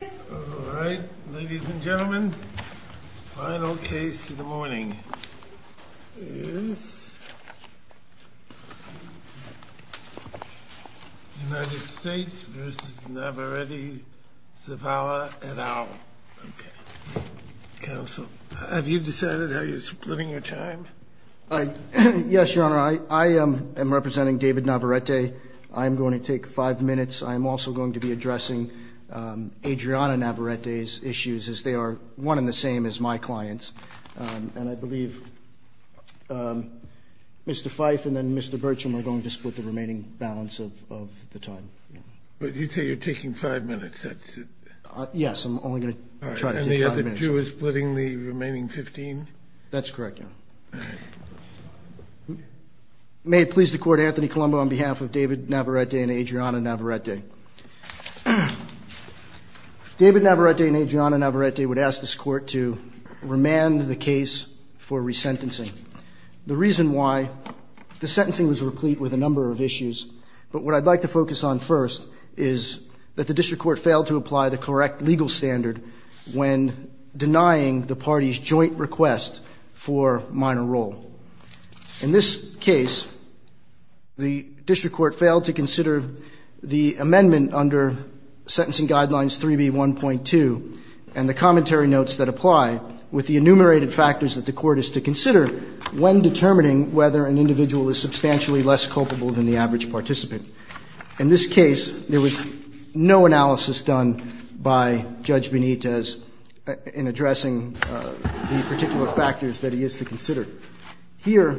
All right, ladies and gentlemen, the final case of the morning is United States v. Navarrete-Zavala et al. Counsel, have you decided how you're splitting your time? Yes, Your Honor, I am representing David Navarrete. I am going to take five minutes. I am also going to be addressing Adriana Navarrete's issues, as they are one and the same as my client's. And I believe Mr. Fife and then Mr. Bertram are going to split the remaining balance of the time. But you say you're taking five minutes. Yes, I'm only going to try to take five minutes. And the other two are splitting the remaining 15? That's correct, Your Honor. May it please the Court, Anthony Colombo on behalf of David Navarrete and Adriana Navarrete. David Navarrete and Adriana Navarrete would ask this Court to remand the case for resentencing. The reason why the sentencing was replete with a number of issues, but what I'd like to focus on first is that the district court failed to apply the correct legal standard when denying the party's joint request for minor role. In this case, the district court failed to consider the amendment under Sentencing Guidelines 3B1.2 and the commentary notes that apply with the enumerated factors that the court is to consider when determining whether an individual is substantially less culpable than the average participant. In this case, there was no analysis done by Judge Benitez in addressing the particular factors that he is to consider. Here,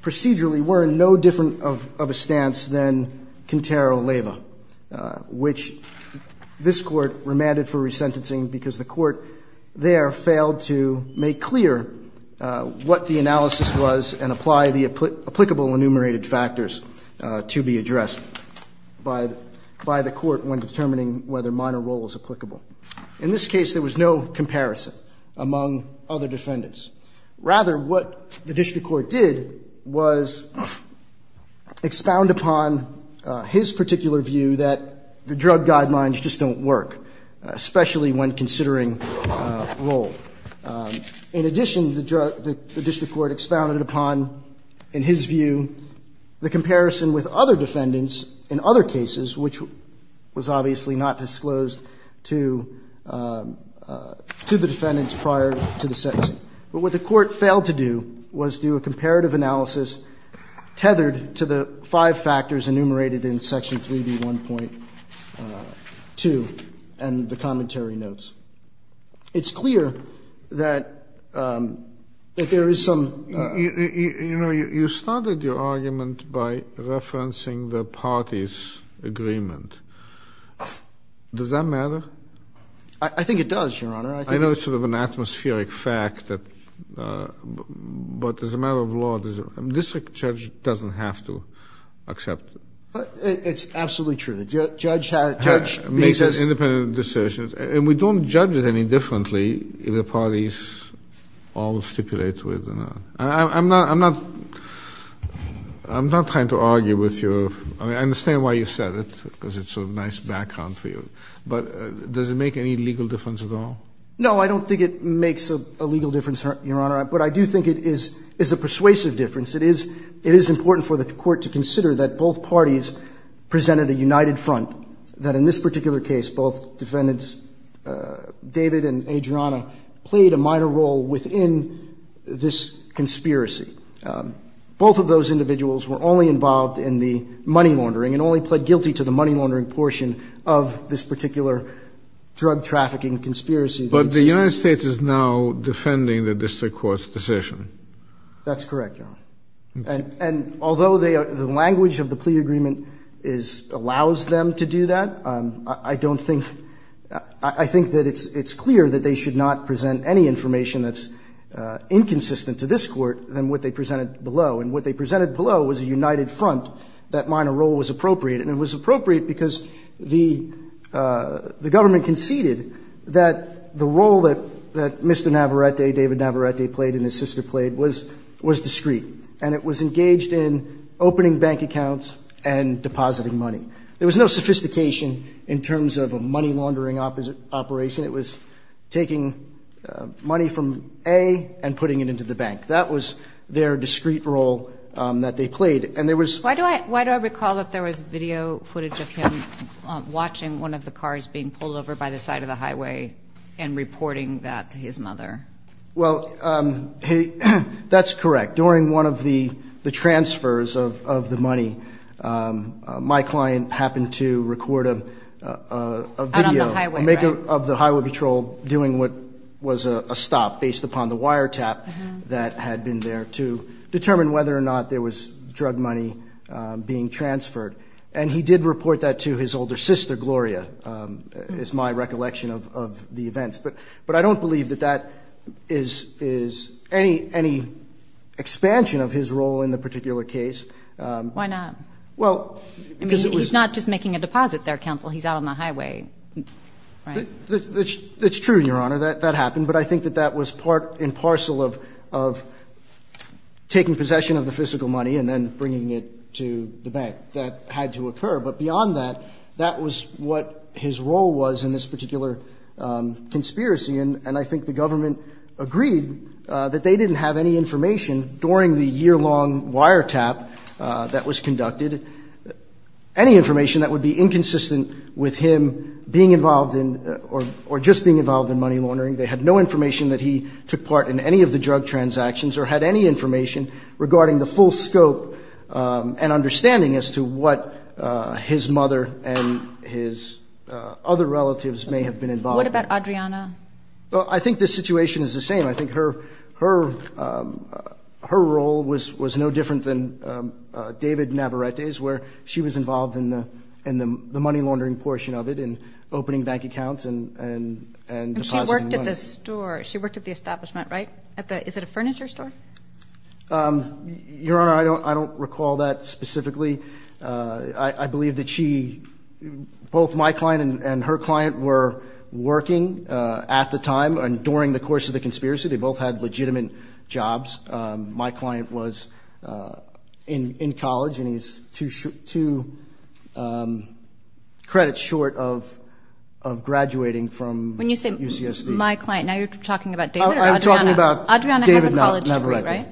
procedurally, we're in no different of a stance than Quintero-Leyva, which this Court remanded for resentencing because the Court there failed to make clear what the analysis was and apply the applicable enumerated factors to be addressed by the court when determining whether minor role is applicable. In this case, there was no comparison among other defendants. Rather, what the district court did was expound upon his particular view that the drug guidelines just don't work, especially when considering role. In addition, the district court expounded upon, in his view, the comparison with other defendants in other cases, which was obviously not disclosed to the defendants prior to the sentencing. But what the court failed to do was do a comparative analysis tethered to the five factors enumerated in Section 3B1.2 and the commentary notes. It's clear that there is some ---- You know, you started your argument by referencing the parties' agreement. Does that matter? I think it does, Your Honor. I know it's sort of an atmospheric fact, but as a matter of law, a district judge doesn't have to accept it. It's absolutely true. And we don't judge it any differently if the parties all stipulate to it. I'm not trying to argue with your ---- I mean, I understand why you said it, because it's a nice background for you. But does it make any legal difference at all? No, I don't think it makes a legal difference, Your Honor. But I do think it is a persuasive difference. It is important for the court to consider that both parties presented a united front, that in this particular case, both defendants, David and Adriana, played a minor role within this conspiracy. Both of those individuals were only involved in the money laundering and only pled guilty to the money laundering portion of this particular drug trafficking conspiracy. But the United States is now defending the district court's decision. That's correct, Your Honor. And although the language of the plea agreement allows them to do that, I don't think ---- I think that it's clear that they should not present any information that's inconsistent to this court than what they presented below. And what they presented below was a united front that minor role was appropriate. And it was appropriate because the government conceded that the role that Mr. Navarrete, David Navarrete, played and his sister played was discrete. And it was engaged in opening bank accounts and depositing money. There was no sophistication in terms of a money laundering operation. It was taking money from A and putting it into the bank. That was their discrete role that they played. And there was ---- Why do I recall that there was video footage of him watching one of the cars being pulled over by the side of the highway and reporting that to his mother? Well, that's correct. During one of the transfers of the money, my client happened to record a video. Out on the highway, right. Of the highway patrol doing what was a stop based upon the wiretap that had been there to determine whether or not there was drug money being transferred. And he did report that to his older sister, Gloria, is my recollection of the events. But I don't believe that that is any expansion of his role in the particular case. Why not? Well, because it was ---- I mean, he's not just making a deposit there, counsel. He's out on the highway, right? That's true, Your Honor. That happened. But I think that that was part and parcel of taking possession of the fiscal money and then bringing it to the bank. That had to occur. But beyond that, that was what his role was in this particular conspiracy. And I think the government agreed that they didn't have any information during the yearlong wiretap that was conducted, any information that would be inconsistent with him being involved in or just being involved in money laundering. They had no information that he took part in any of the drug transactions or had any information regarding the full scope and understanding as to what his mother and his other relatives may have been involved in. What about Adriana? Well, I think the situation is the same. I think her role was no different than David Navarrete's, where she was involved in the money laundering portion of it and opening bank accounts and depositing money. And she worked at the store. She worked at the establishment, right? Is it a furniture store? Your Honor, I don't recall that specifically. I believe that she, both my client and her client, were working at the time and during the course of the conspiracy. They both had legitimate jobs. My client was in college, and he's two credits short of graduating from UCSD. When you say my client, now you're talking about David or Adriana? I'm talking about David Navarrete. Adriana has a college degree, right?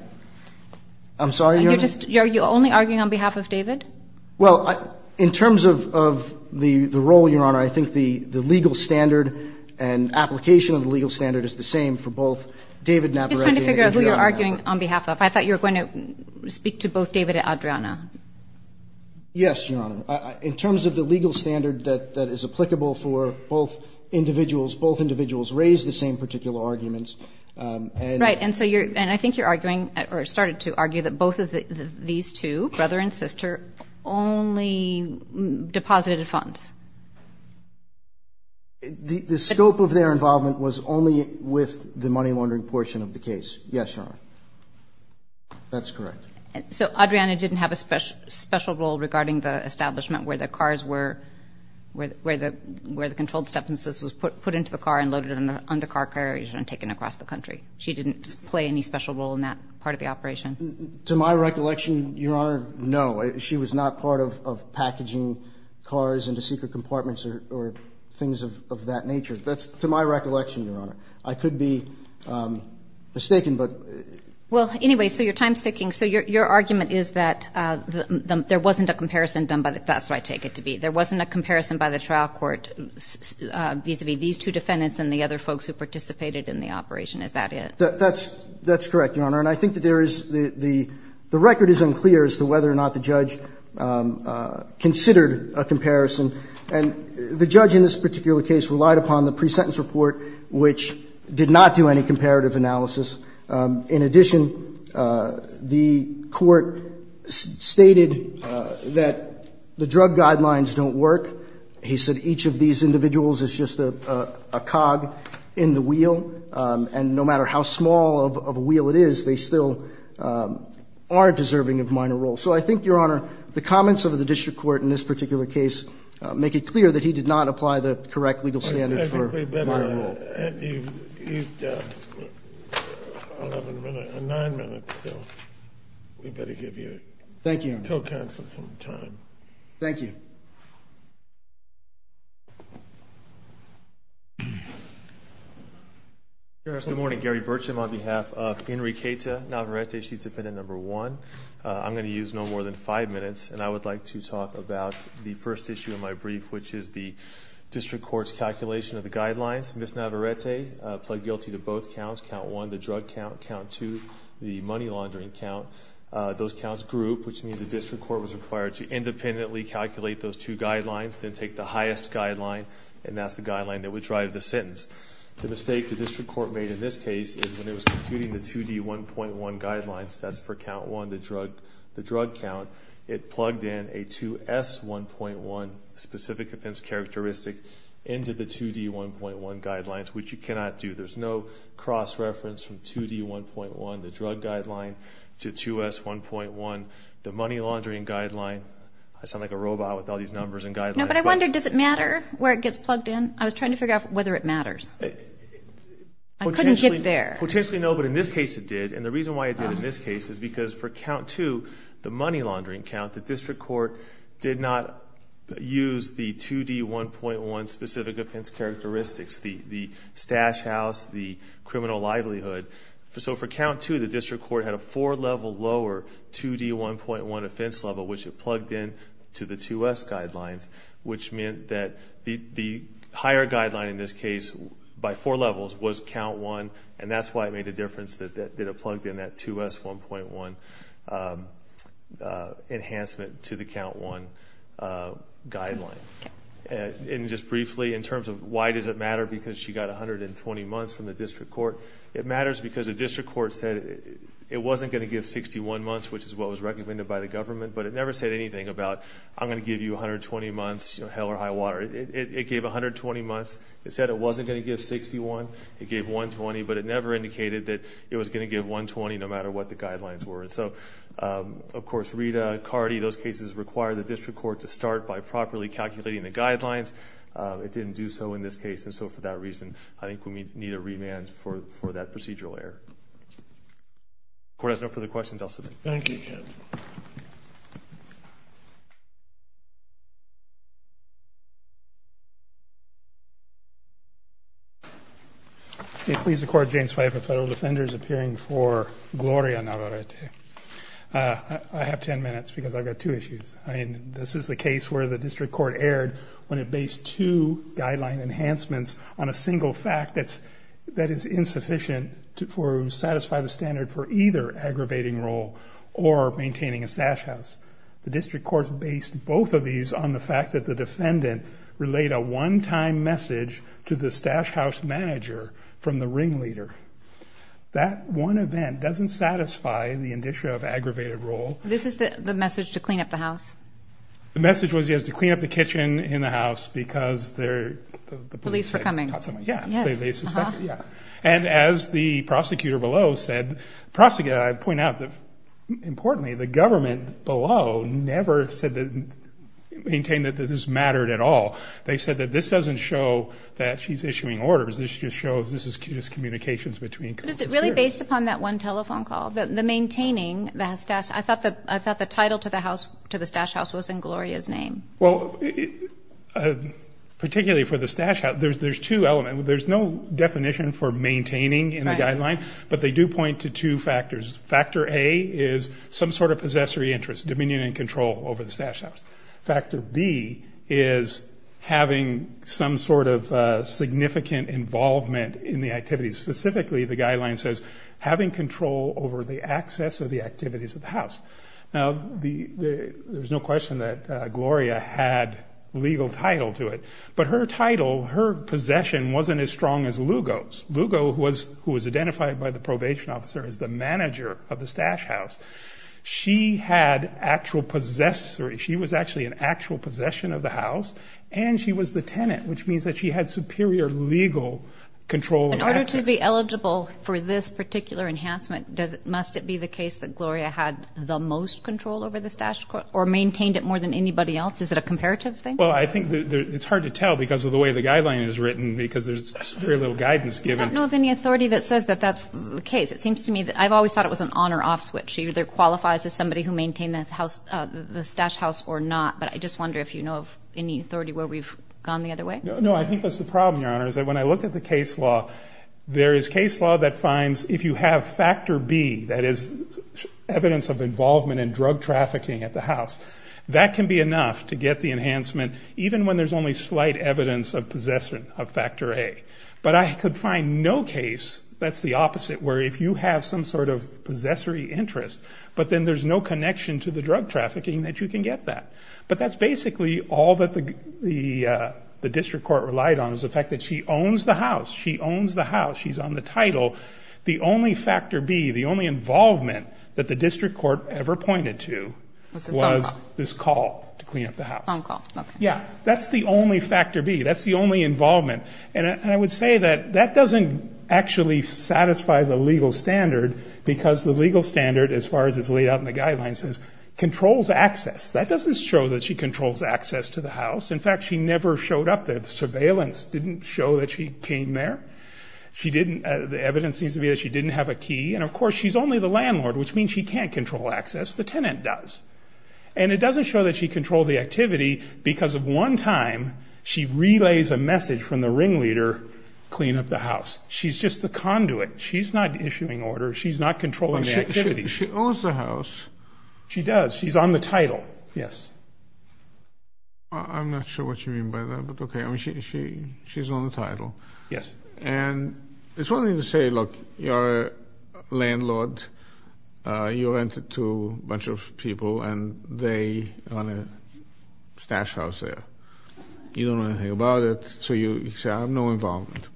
I'm sorry, Your Honor? Are you only arguing on behalf of David? Well, in terms of the role, Your Honor, I think the legal standard and application of the legal standard is the same for both David Navarrete and Adriana Navarrete. I'm just trying to figure out who you're arguing on behalf of. I thought you were going to speak to both David and Adriana. Yes, Your Honor. In terms of the legal standard that is applicable for both individuals, both individuals raised the same particular arguments. Right, and so I think you're arguing or started to argue that both of these two, brother and sister, only deposited funds. The scope of their involvement was only with the money laundering portion of the case. Yes, Your Honor. That's correct. So Adriana didn't have a special role regarding the establishment where the cars were, where the controlled substances were put into the car and loaded onto car carriers and taken across the country. She didn't play any special role in that part of the operation. To my recollection, Your Honor, no. She was not part of packaging cars into secret compartments or things of that nature. That's to my recollection, Your Honor. I could be mistaken, but ---- Well, anyway, so you're time-sticking. So your argument is that there wasn't a comparison done by the ---- that's what I take it to be. There wasn't a comparison by the trial court vis-à-vis these two defendants and the other folks who participated in the operation. Is that it? That's correct, Your Honor. And I think that there is the record is unclear as to whether or not the judge considered a comparison. And the judge in this particular case relied upon the pre-sentence report, which did not do any comparative analysis. In addition, the court stated that the drug guidelines don't work. He said each of these individuals is just a cog in the wheel. And no matter how small of a wheel it is, they still aren't deserving of minor role. So I think, Your Honor, the comments of the district court in this particular case make it clear that he did not apply the correct legal standard for minor role. Your Honor, you've got nine minutes, so we'd better give you until council sometime. Thank you, Your Honor. Thank you. Good morning, Gary Burcham. On behalf of Inri Queta Navarrete, she's defendant number one. I'm going to use no more than five minutes. And I would like to talk about the first issue of my brief, which is the district court's calculation of the guidelines. Ms. Navarrete pled guilty to both counts, count one, the drug count, count two, the money laundering count. Those counts group, which means the district court was required to independently calculate those two guidelines, then take the highest guideline, and that's the guideline that would drive the sentence. The mistake the district court made in this case is when it was computing the 2D1.1 guidelines, that's for count one, the drug count, it plugged in a 2S1.1 specific offense characteristic into the 2D1.1 guidelines, which you cannot do. There's no cross-reference from 2D1.1, the drug guideline, to 2S1.1, the money laundering guideline. I sound like a robot with all these numbers and guidelines. No, but I wonder, does it matter where it gets plugged in? I was trying to figure out whether it matters. I couldn't get there. Potentially no, but in this case it did. And the reason why it did in this case is because for count two, the money 2D1.1 specific offense characteristics, the stash house, the criminal livelihood. So for count two, the district court had a four-level lower 2D1.1 offense level, which it plugged in to the 2S guidelines, which meant that the higher guideline in this case by four levels was count one, and that's why it made a difference that it plugged in that 2S1.1 enhancement to the count one guideline. And just briefly, in terms of why does it matter, because she got 120 months from the district court. It matters because the district court said it wasn't going to give 61 months, which is what was recommended by the government, but it never said anything about, I'm going to give you 120 months, hell or high water. It gave 120 months. It said it wasn't going to give 61. It gave 120, but it never indicated that it was going to give 120 no matter what the guidelines were. So, of course, Rita, Cardi, those cases require the district court to start by properly calculating the guidelines. It didn't do so in this case, and so for that reason, I think we need a remand for that procedural error. If the court has no further questions, I'll submit. Thank you, Judge. It please the court, James Pfeiffer, Federal Defenders, appearing for Gloria Navarrete. I have ten minutes because I've got two issues. I mean, this is the case where the district court erred when it based two guideline enhancements on a single fact that is insufficient to satisfy the standard for either aggravating role or maintaining a stash house. The district court based both of these on the fact that the defendant relayed a one-time message to the stash house manager from the ringleader. That one event doesn't satisfy the indicia of aggravated role. This is the message to clean up the house? The message was, yes, to clean up the kitchen in the house because the police were coming. Yes. And as the prosecutor below said, I point out that, importantly, the government below never maintained that this mattered at all. They said that this doesn't show that she's issuing orders. This just shows this is communications between prosecutors. But is it really based upon that one telephone call? I thought the title to the stash house was in Gloria's name. Well, particularly for the stash house, there's two elements. There's no definition for maintaining in the guideline, but they do point to two factors. Factor A is some sort of possessory interest, dominion and control over the stash house. Factor B is having some sort of significant involvement in the activities. Specifically, the guideline says, having control over the access of the activities of the house. Now, there's no question that Gloria had legal title to it, but her title, her possession wasn't as strong as Lugo's. Lugo, who was identified by the probation officer as the manager of the stash house, she had actual possessory. She was actually an actual possession of the house, and she was the tenant, which means that she had superior legal control. In order to be eligible for this particular enhancement, must it be the case that Gloria had the most control over the stash, or maintained it more than anybody else? Is it a comparative thing? Well, I think it's hard to tell because of the way the guideline is written, because there's very little guidance given. I don't know of any authority that says that that's the case. It seems to me that I've always thought it was an on or off switch. She either qualifies as somebody who maintained the stash house or not, but I just wonder if you know of any authority where we've gone the other way. No, I think that's the problem, Your Honor, is that when I looked at the case law, there is case law that finds if you have factor B, that is evidence of involvement in drug trafficking at the house, that can be enough to get the enhancement, even when there's only slight evidence of possession of factor A. But I could find no case that's the opposite, where if you have some sort of possessory interest, but then there's no connection to the drug trafficking, that you can get that. But that's basically all that the district court relied on, was the fact that she owns the house. She owns the house. She's on the title. The only factor B, the only involvement, that the district court ever pointed to was this call to clean up the house. Phone call. Yeah. That's the only factor B. That's the only involvement. And I would say that that doesn't actually satisfy the legal standard, because the legal standard, as far as is laid out in the guidelines, is controls access. That doesn't show that she controls access to the house. In fact, she never showed up there. The surveillance didn't show that she came there. The evidence seems to be that she didn't have a key. And, of course, she's only the landlord, which means she can't control access. The tenant does. And it doesn't show that she controlled the activity, because of one time she relays a message from the ringleader, clean up the house. She's just the conduit. She's not issuing orders. She's not controlling the activity. She owns the house. She does. She's on the title. Yes. I'm not sure what you mean by that. But, okay, she's on the title. Yes. And it's one thing to say, look, you're a landlord. You rented to a bunch of people, and they own a stash house there. You don't know anything about it. So you say, I have no involvement.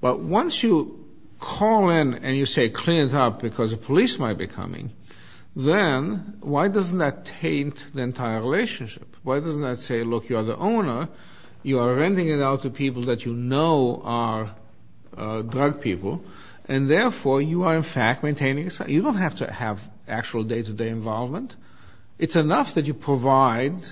But once you call in and you say, clean it up, because the police might be coming, then why doesn't that taint the entire relationship? Why doesn't that say, look, you're the owner. You are renting it out to people that you know are drug people. And, therefore, you are, in fact, maintaining. You don't have to have actual day-to-day involvement. It's enough that you provide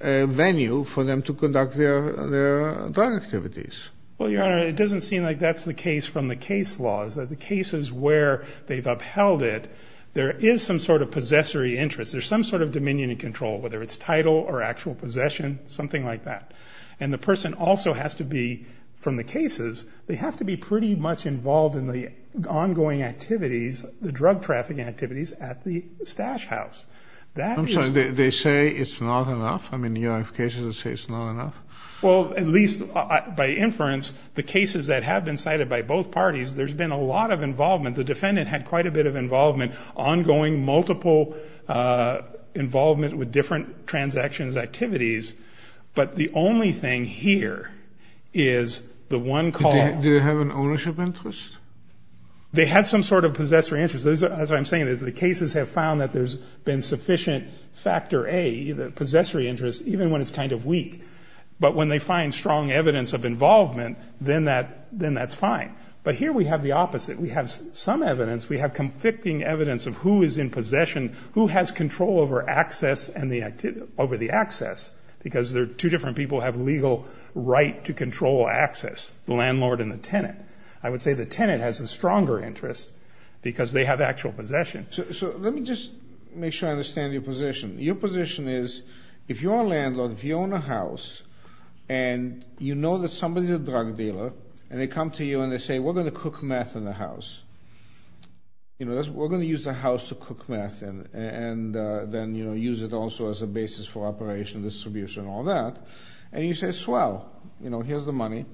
a venue for them to conduct their drug activities. Well, Your Honor, it doesn't seem like that's the case from the case laws, that the cases where they've upheld it, there is some sort of possessory interest. There's some sort of dominion and control, whether it's title or actual possession, something like that. And the person also has to be, from the cases, they have to be pretty much involved in the ongoing activities, the drug trafficking activities at the stash house. I'm sorry. They say it's not enough? I mean, you have cases that say it's not enough? Well, at least by inference, the cases that have been cited by both parties, there's been a lot of involvement. The defendant had quite a bit of involvement, ongoing multiple involvement with different transactions, activities. But the only thing here is the one call. Do they have an ownership interest? They had some sort of possessory interest. As I'm saying, the cases have found that there's been sufficient factor A, the possessory interest, even when it's kind of weak. But when they find strong evidence of involvement, then that's fine. But here we have the opposite. We have some evidence. We have conflicting evidence of who is in possession, who has control over access and the activity, over the access, because there are two different people who have legal right to control access, the landlord and the tenant. I would say the tenant has a stronger interest because they have actual possession. So let me just make sure I understand your position. Your position is if you're a landlord, if you own a house, and you know that somebody's a drug dealer, and they come to you and they say, we're going to cook meth in the house. We're going to use the house to cook meth and then use it also as a basis for operation, distribution, all that. And you say, swell, here's the money,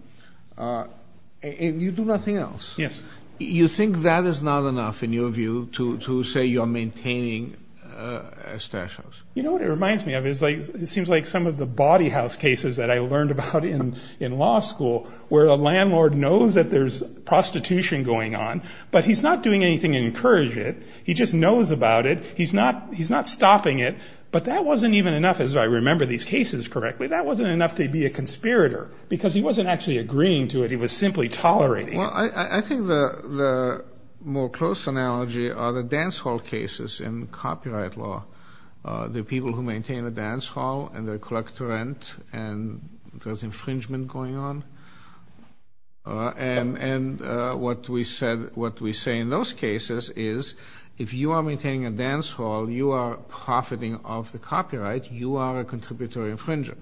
and you do nothing else. Yes. You think that is not enough, in your view, to say you're maintaining a stash house? You know what it reminds me of? It seems like some of the body house cases that I learned about in law school where a landlord knows that there's prostitution going on, but he's not doing anything to encourage it. He just knows about it. He's not stopping it. But that wasn't even enough, as I remember these cases correctly, that wasn't enough to be a conspirator because he wasn't actually agreeing to it. He was simply tolerating it. Well, I think the more close analogy are the dance hall cases in copyright law. The people who maintain the dance hall and they collect the rent and there's infringement going on. And what we say in those cases is if you are maintaining a dance hall, you are profiting off the copyright, you are a contributory infringer.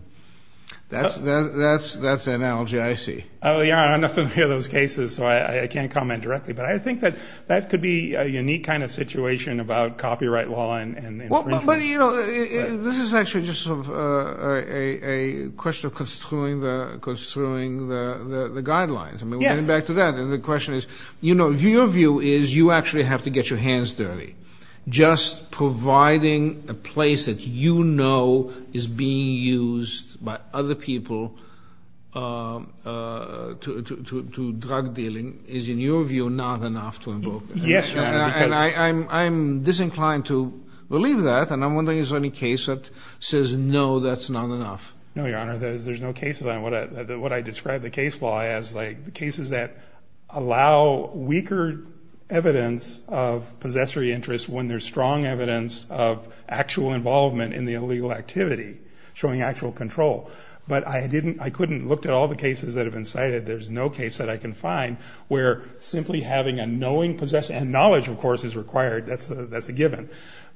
That's the analogy I see. I'm not familiar with those cases, so I can't comment directly. But I think that that could be a unique kind of situation about copyright law and infringements. But, you know, this is actually just a question of construing the guidelines. I mean, getting back to that, and the question is, you know, your view is you actually have to get your hands dirty. Just providing a place that you know is being used by other people to drug dealing is, in your view, not enough to invoke this. Yes, Your Honor. And I'm disinclined to believe that. And I'm wondering if there's any case that says, no, that's not enough. No, Your Honor. There's no cases on what I describe the case law as, like the cases that allow weaker evidence of possessory interest when there's strong evidence of actual involvement in the illegal activity, showing actual control. But I couldn't look at all the cases that have been cited. There's no case that I can find where simply having a knowing possessor and knowledge, of course, is required, that's a given,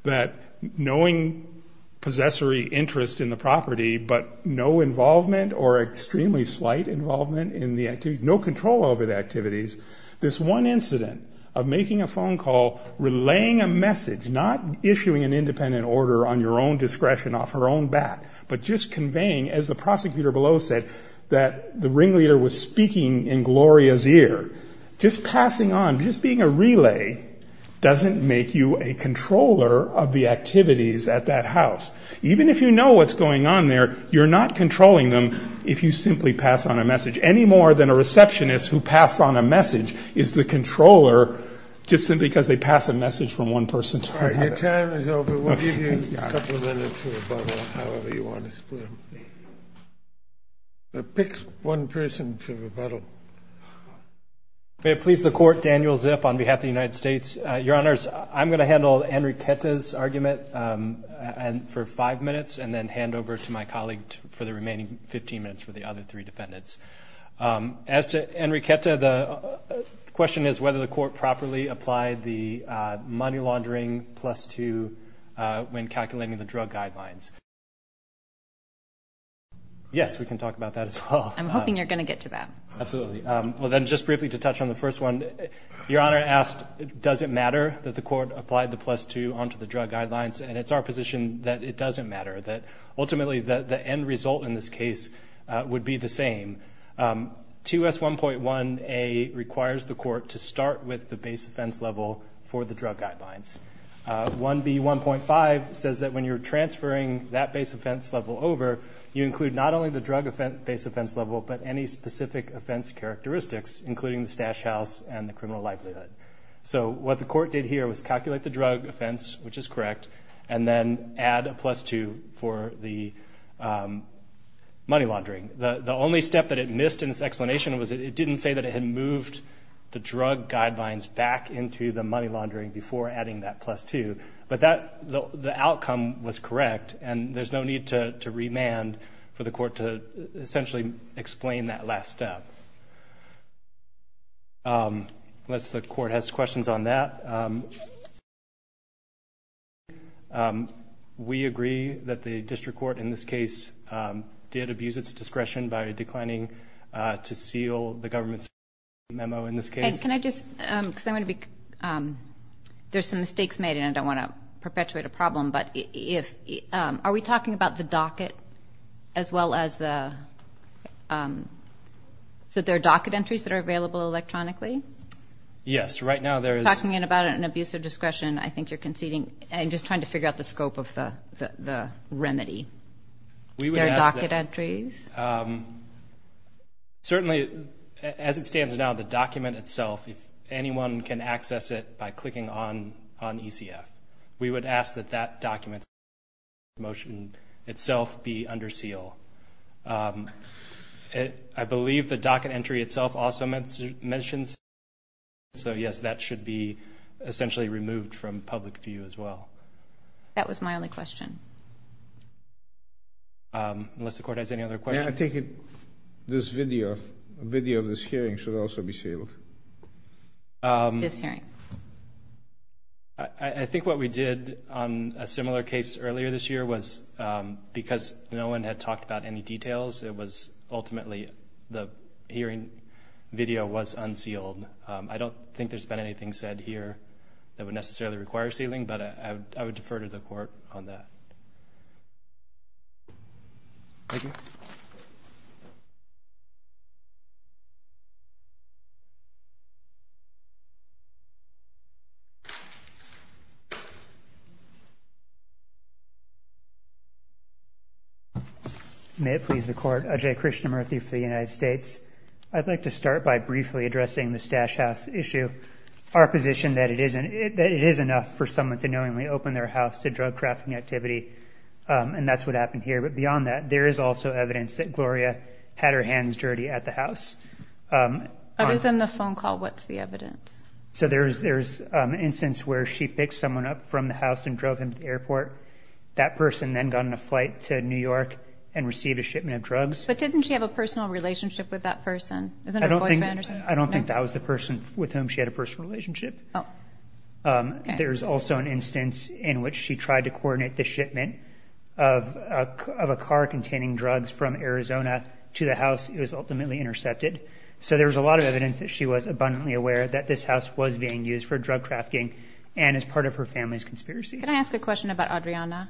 that knowing possessory interest in the property but no involvement or extremely slight involvement in the activities, no control over the activities. This one incident of making a phone call, relaying a message, not issuing an independent order on your own discretion off her own back, but just conveying, as the prosecutor below said, that the ringleader was speaking in Gloria's ear, just passing on, just being a relay, doesn't make you a controller of the activities at that house. Even if you know what's going on there, you're not controlling them if you simply pass on a message. Any more than a receptionist who passes on a message is the controller just simply because they pass a message from one person to another. Your time is over. We'll give you a couple of minutes to rebuttal however you want to split it. Pick one person to rebuttal. May it please the Court, Daniel Zip on behalf of the United States. Your Honors, I'm going to handle Enriquez's argument for five minutes and then hand over to my colleague for the remaining 15 minutes for the other three defendants. As to Enriquez, the question is whether the Court properly applied the money laundering plus two when calculating the drug guidelines. Yes, we can talk about that as well. I'm hoping you're going to get to that. Absolutely. Well, then just briefly to touch on the first one, Your Honor asked does it matter that the Court applied the plus two onto the drug guidelines, and it's our position that it doesn't matter, that ultimately the end result in this case would be the same. 2S1.1A requires the Court to start with the base offense level for the drug guidelines. 1B1.5 says that when you're transferring that base offense level over, you include not only the drug base offense level but any specific offense characteristics, including the stash house and the criminal likelihood. So what the Court did here was calculate the drug offense, which is correct, and then add a plus two for the money laundering. The only step that it missed in its explanation was it didn't say that it had moved the drug guidelines back into the money laundering before adding that plus two, but the outcome was correct, and there's no need to remand for the Court to essentially explain that last step. Unless the Court has questions on that. We agree that the district court in this case did abuse its discretion by declining to seal the government's memo in this case. Can I just, because I'm going to be, there's some mistakes made, and I don't want to perpetuate a problem, but if, are we talking about the docket as well as the, so there are docket entries that are available electronically? Yes, right now there is. If you're talking about an abuse of discretion, I think you're conceding, I'm just trying to figure out the scope of the remedy. There are docket entries? Certainly, as it stands now, the document itself, if anyone can access it by clicking on ECF, we would ask that that document, the motion itself, be under seal. I believe the docket entry itself also mentions that, so, yes, that should be essentially removed from public view as well. That was my only question. Unless the Court has any other questions. I take it this video, a video of this hearing should also be sealed. This hearing. I think what we did on a similar case earlier this year was, because no one had talked about any details, it was ultimately the hearing video was unsealed. I don't think there's been anything said here that would necessarily require sealing, but I would defer to the Court on that. Thank you. Thank you. May it please the Court. Ajay Krishnamurthy for the United States. I'd like to start by briefly addressing the Stash House issue, our position that it is enough for someone to knowingly open their house to drug-crafting activity, and that's what happened here. But beyond that, there is also evidence that Gloria had her hands dirty at the house. Other than the phone call, what's the evidence? So there's instance where she picked someone up from the house and drove him to the airport. That person then got on a flight to New York and received a shipment of drugs. But didn't she have a personal relationship with that person? I don't think that was the person with whom she had a personal relationship. There's also an instance in which she tried to coordinate the shipment of a car containing drugs from Arizona to the house. It was ultimately intercepted. So there was a lot of evidence that she was abundantly aware that this house was being used for drug-crafting and as part of her family's conspiracy. Can I ask a question about Adriana?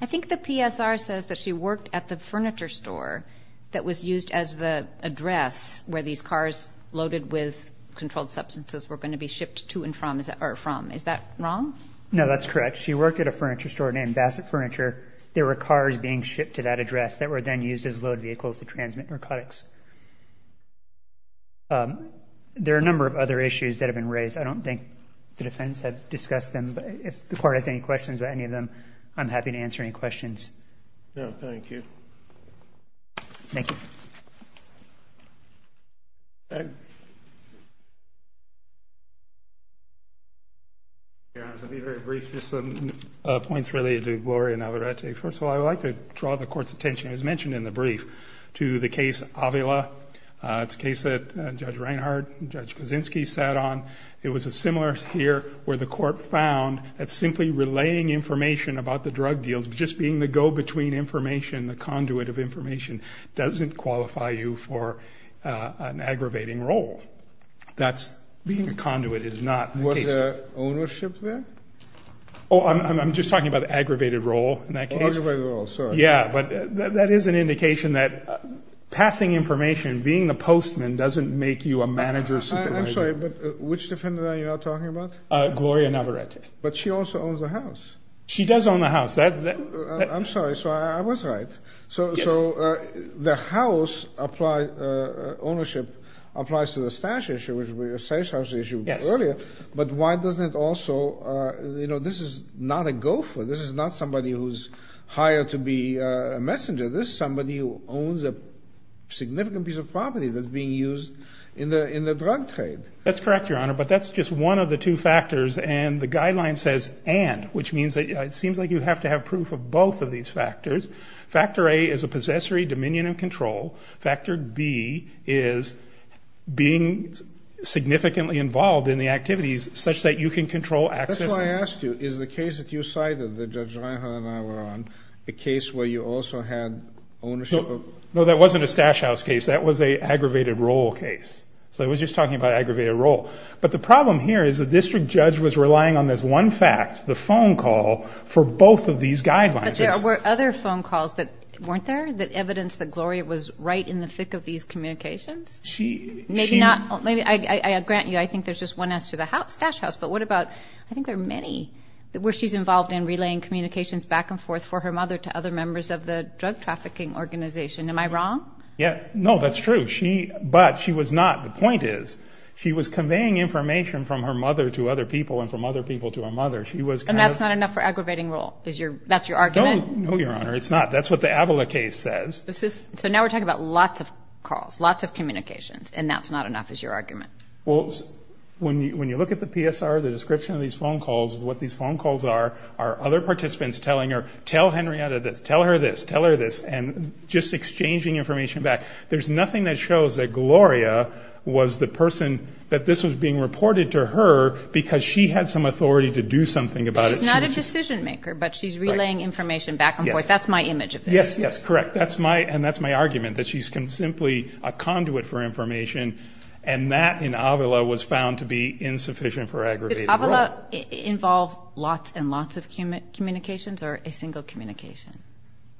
I think the PSR says that she worked at the furniture store that was used as the address where these cars loaded with controlled substances were going to be shipped to and from. Is that wrong? No, that's correct. She worked at a furniture store named Bassett Furniture. There were cars being shipped to that address that were then used as load vehicles to transmit narcotics. There are a number of other issues that have been raised. I don't think the defense has discussed them, but if the court has any questions about any of them, I'm happy to answer any questions. No, thank you. Thank you. Your Honor, I'll be very brief. Just some points related to Gloria Navarrete. First of all, I would like to draw the court's attention, as mentioned in the brief, to the case Avila. It's a case that Judge Reinhardt and Judge Kuczynski sat on. It was similar here where the court found that simply relaying information about the drug deals, just being the go-between information, the conduit of information, doesn't qualify you for an aggravating role. That's being a conduit is not the case. Was there ownership there? I'm just talking about aggravated role in that case. Aggravated role, sorry. Yeah, but that is an indication that passing information, being the postman, doesn't make you a manager. I'm sorry, but which defendant are you now talking about? Gloria Navarrete. But she also owns the house. She does own the house. I'm sorry, so I was right. So the house ownership applies to the stash issue, which was a safe house issue earlier. But why doesn't it also, you know, this is not a gopher. This is not somebody who's hired to be a messenger. This is somebody who owns a significant piece of property that's being used in the drug trade. That's correct, Your Honor, but that's just one of the two factors. And the guideline says and, which means that it seems like you have to have proof of both of these factors. Factor A is a possessory dominion and control. Factor B is being significantly involved in the activities such that you can control access. That's why I asked you, is the case that you cited that Judge Reinhart and I were on a case where you also had ownership? No, that wasn't a stash house case. That was an aggravated role case. So I was just talking about aggravated role. But the problem here is the district judge was relying on this one fact, the phone call, for both of these guidelines. But there were other phone calls that weren't there that evidenced that Gloria was right in the thick of these communications? Maybe not. I grant you I think there's just one answer to the stash house, but what about, I think there are many, where she's involved in relaying communications back and forth for her mother to other members of the drug trafficking organization. Am I wrong? No, that's true. But she was not. The point is she was conveying information from her mother to other people and from other people to her mother. And that's not enough for aggravating role? That's your argument? No, Your Honor, it's not. That's what the Avila case says. So now we're talking about lots of calls, lots of communications, and that's not enough is your argument? Well, when you look at the PSR, the description of these phone calls, what these phone calls are, are other participants telling her, tell Henrietta this, tell her this, tell her this, and just exchanging information back. There's nothing that shows that Gloria was the person that this was being reported to her because she had some authority to do something about it. She's not a decision maker, but she's relaying information back and forth. That's my image of this. Yes, yes, correct. And that's my argument, that she's simply a conduit for information, and that in Avila was found to be insufficient for aggravating role. Did Avila involve lots and lots of communications or a single communication?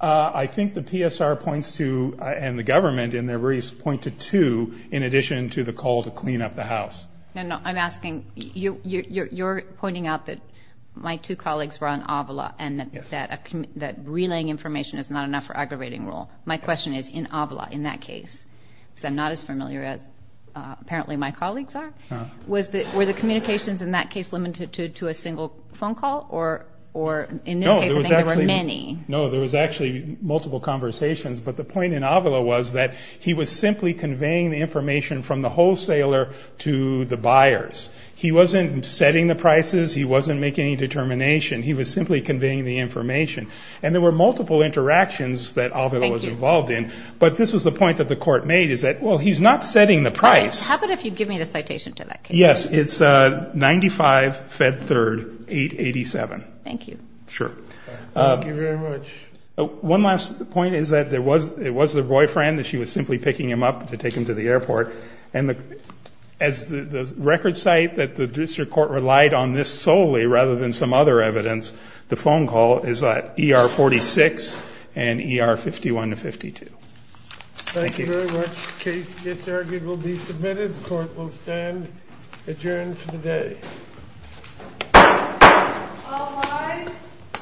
I think the PSR points to, and the government in their briefs point to two, in addition to the call to clean up the house. No, no, I'm asking, you're pointing out that my two colleagues were on Avila and that relaying information is not enough for aggravating role. My question is, in Avila, in that case, because I'm not as familiar as apparently my colleagues are, were the communications in that case limited to a single phone call or in this case I think there were many? No, there was actually multiple conversations, but the point in Avila was that he was simply conveying the information from the wholesaler to the buyers. He wasn't setting the prices. He wasn't making any determination. He was simply conveying the information. And there were multiple interactions that Avila was involved in, but this was the point that the court made is that, well, he's not setting the price. How about if you give me the citation to that case? Yes, it's 95-Fed-3rd-887. Thank you. Sure. Thank you very much. One last point is that it was the boyfriend that she was simply picking him up to take him to the airport, and as the record cite that the district court relied on this solely rather than some other evidence, the phone call is at ER-46 and ER-51-52. Thank you very much. The case just argued will be submitted. The court will stand adjourned for the day. All rise.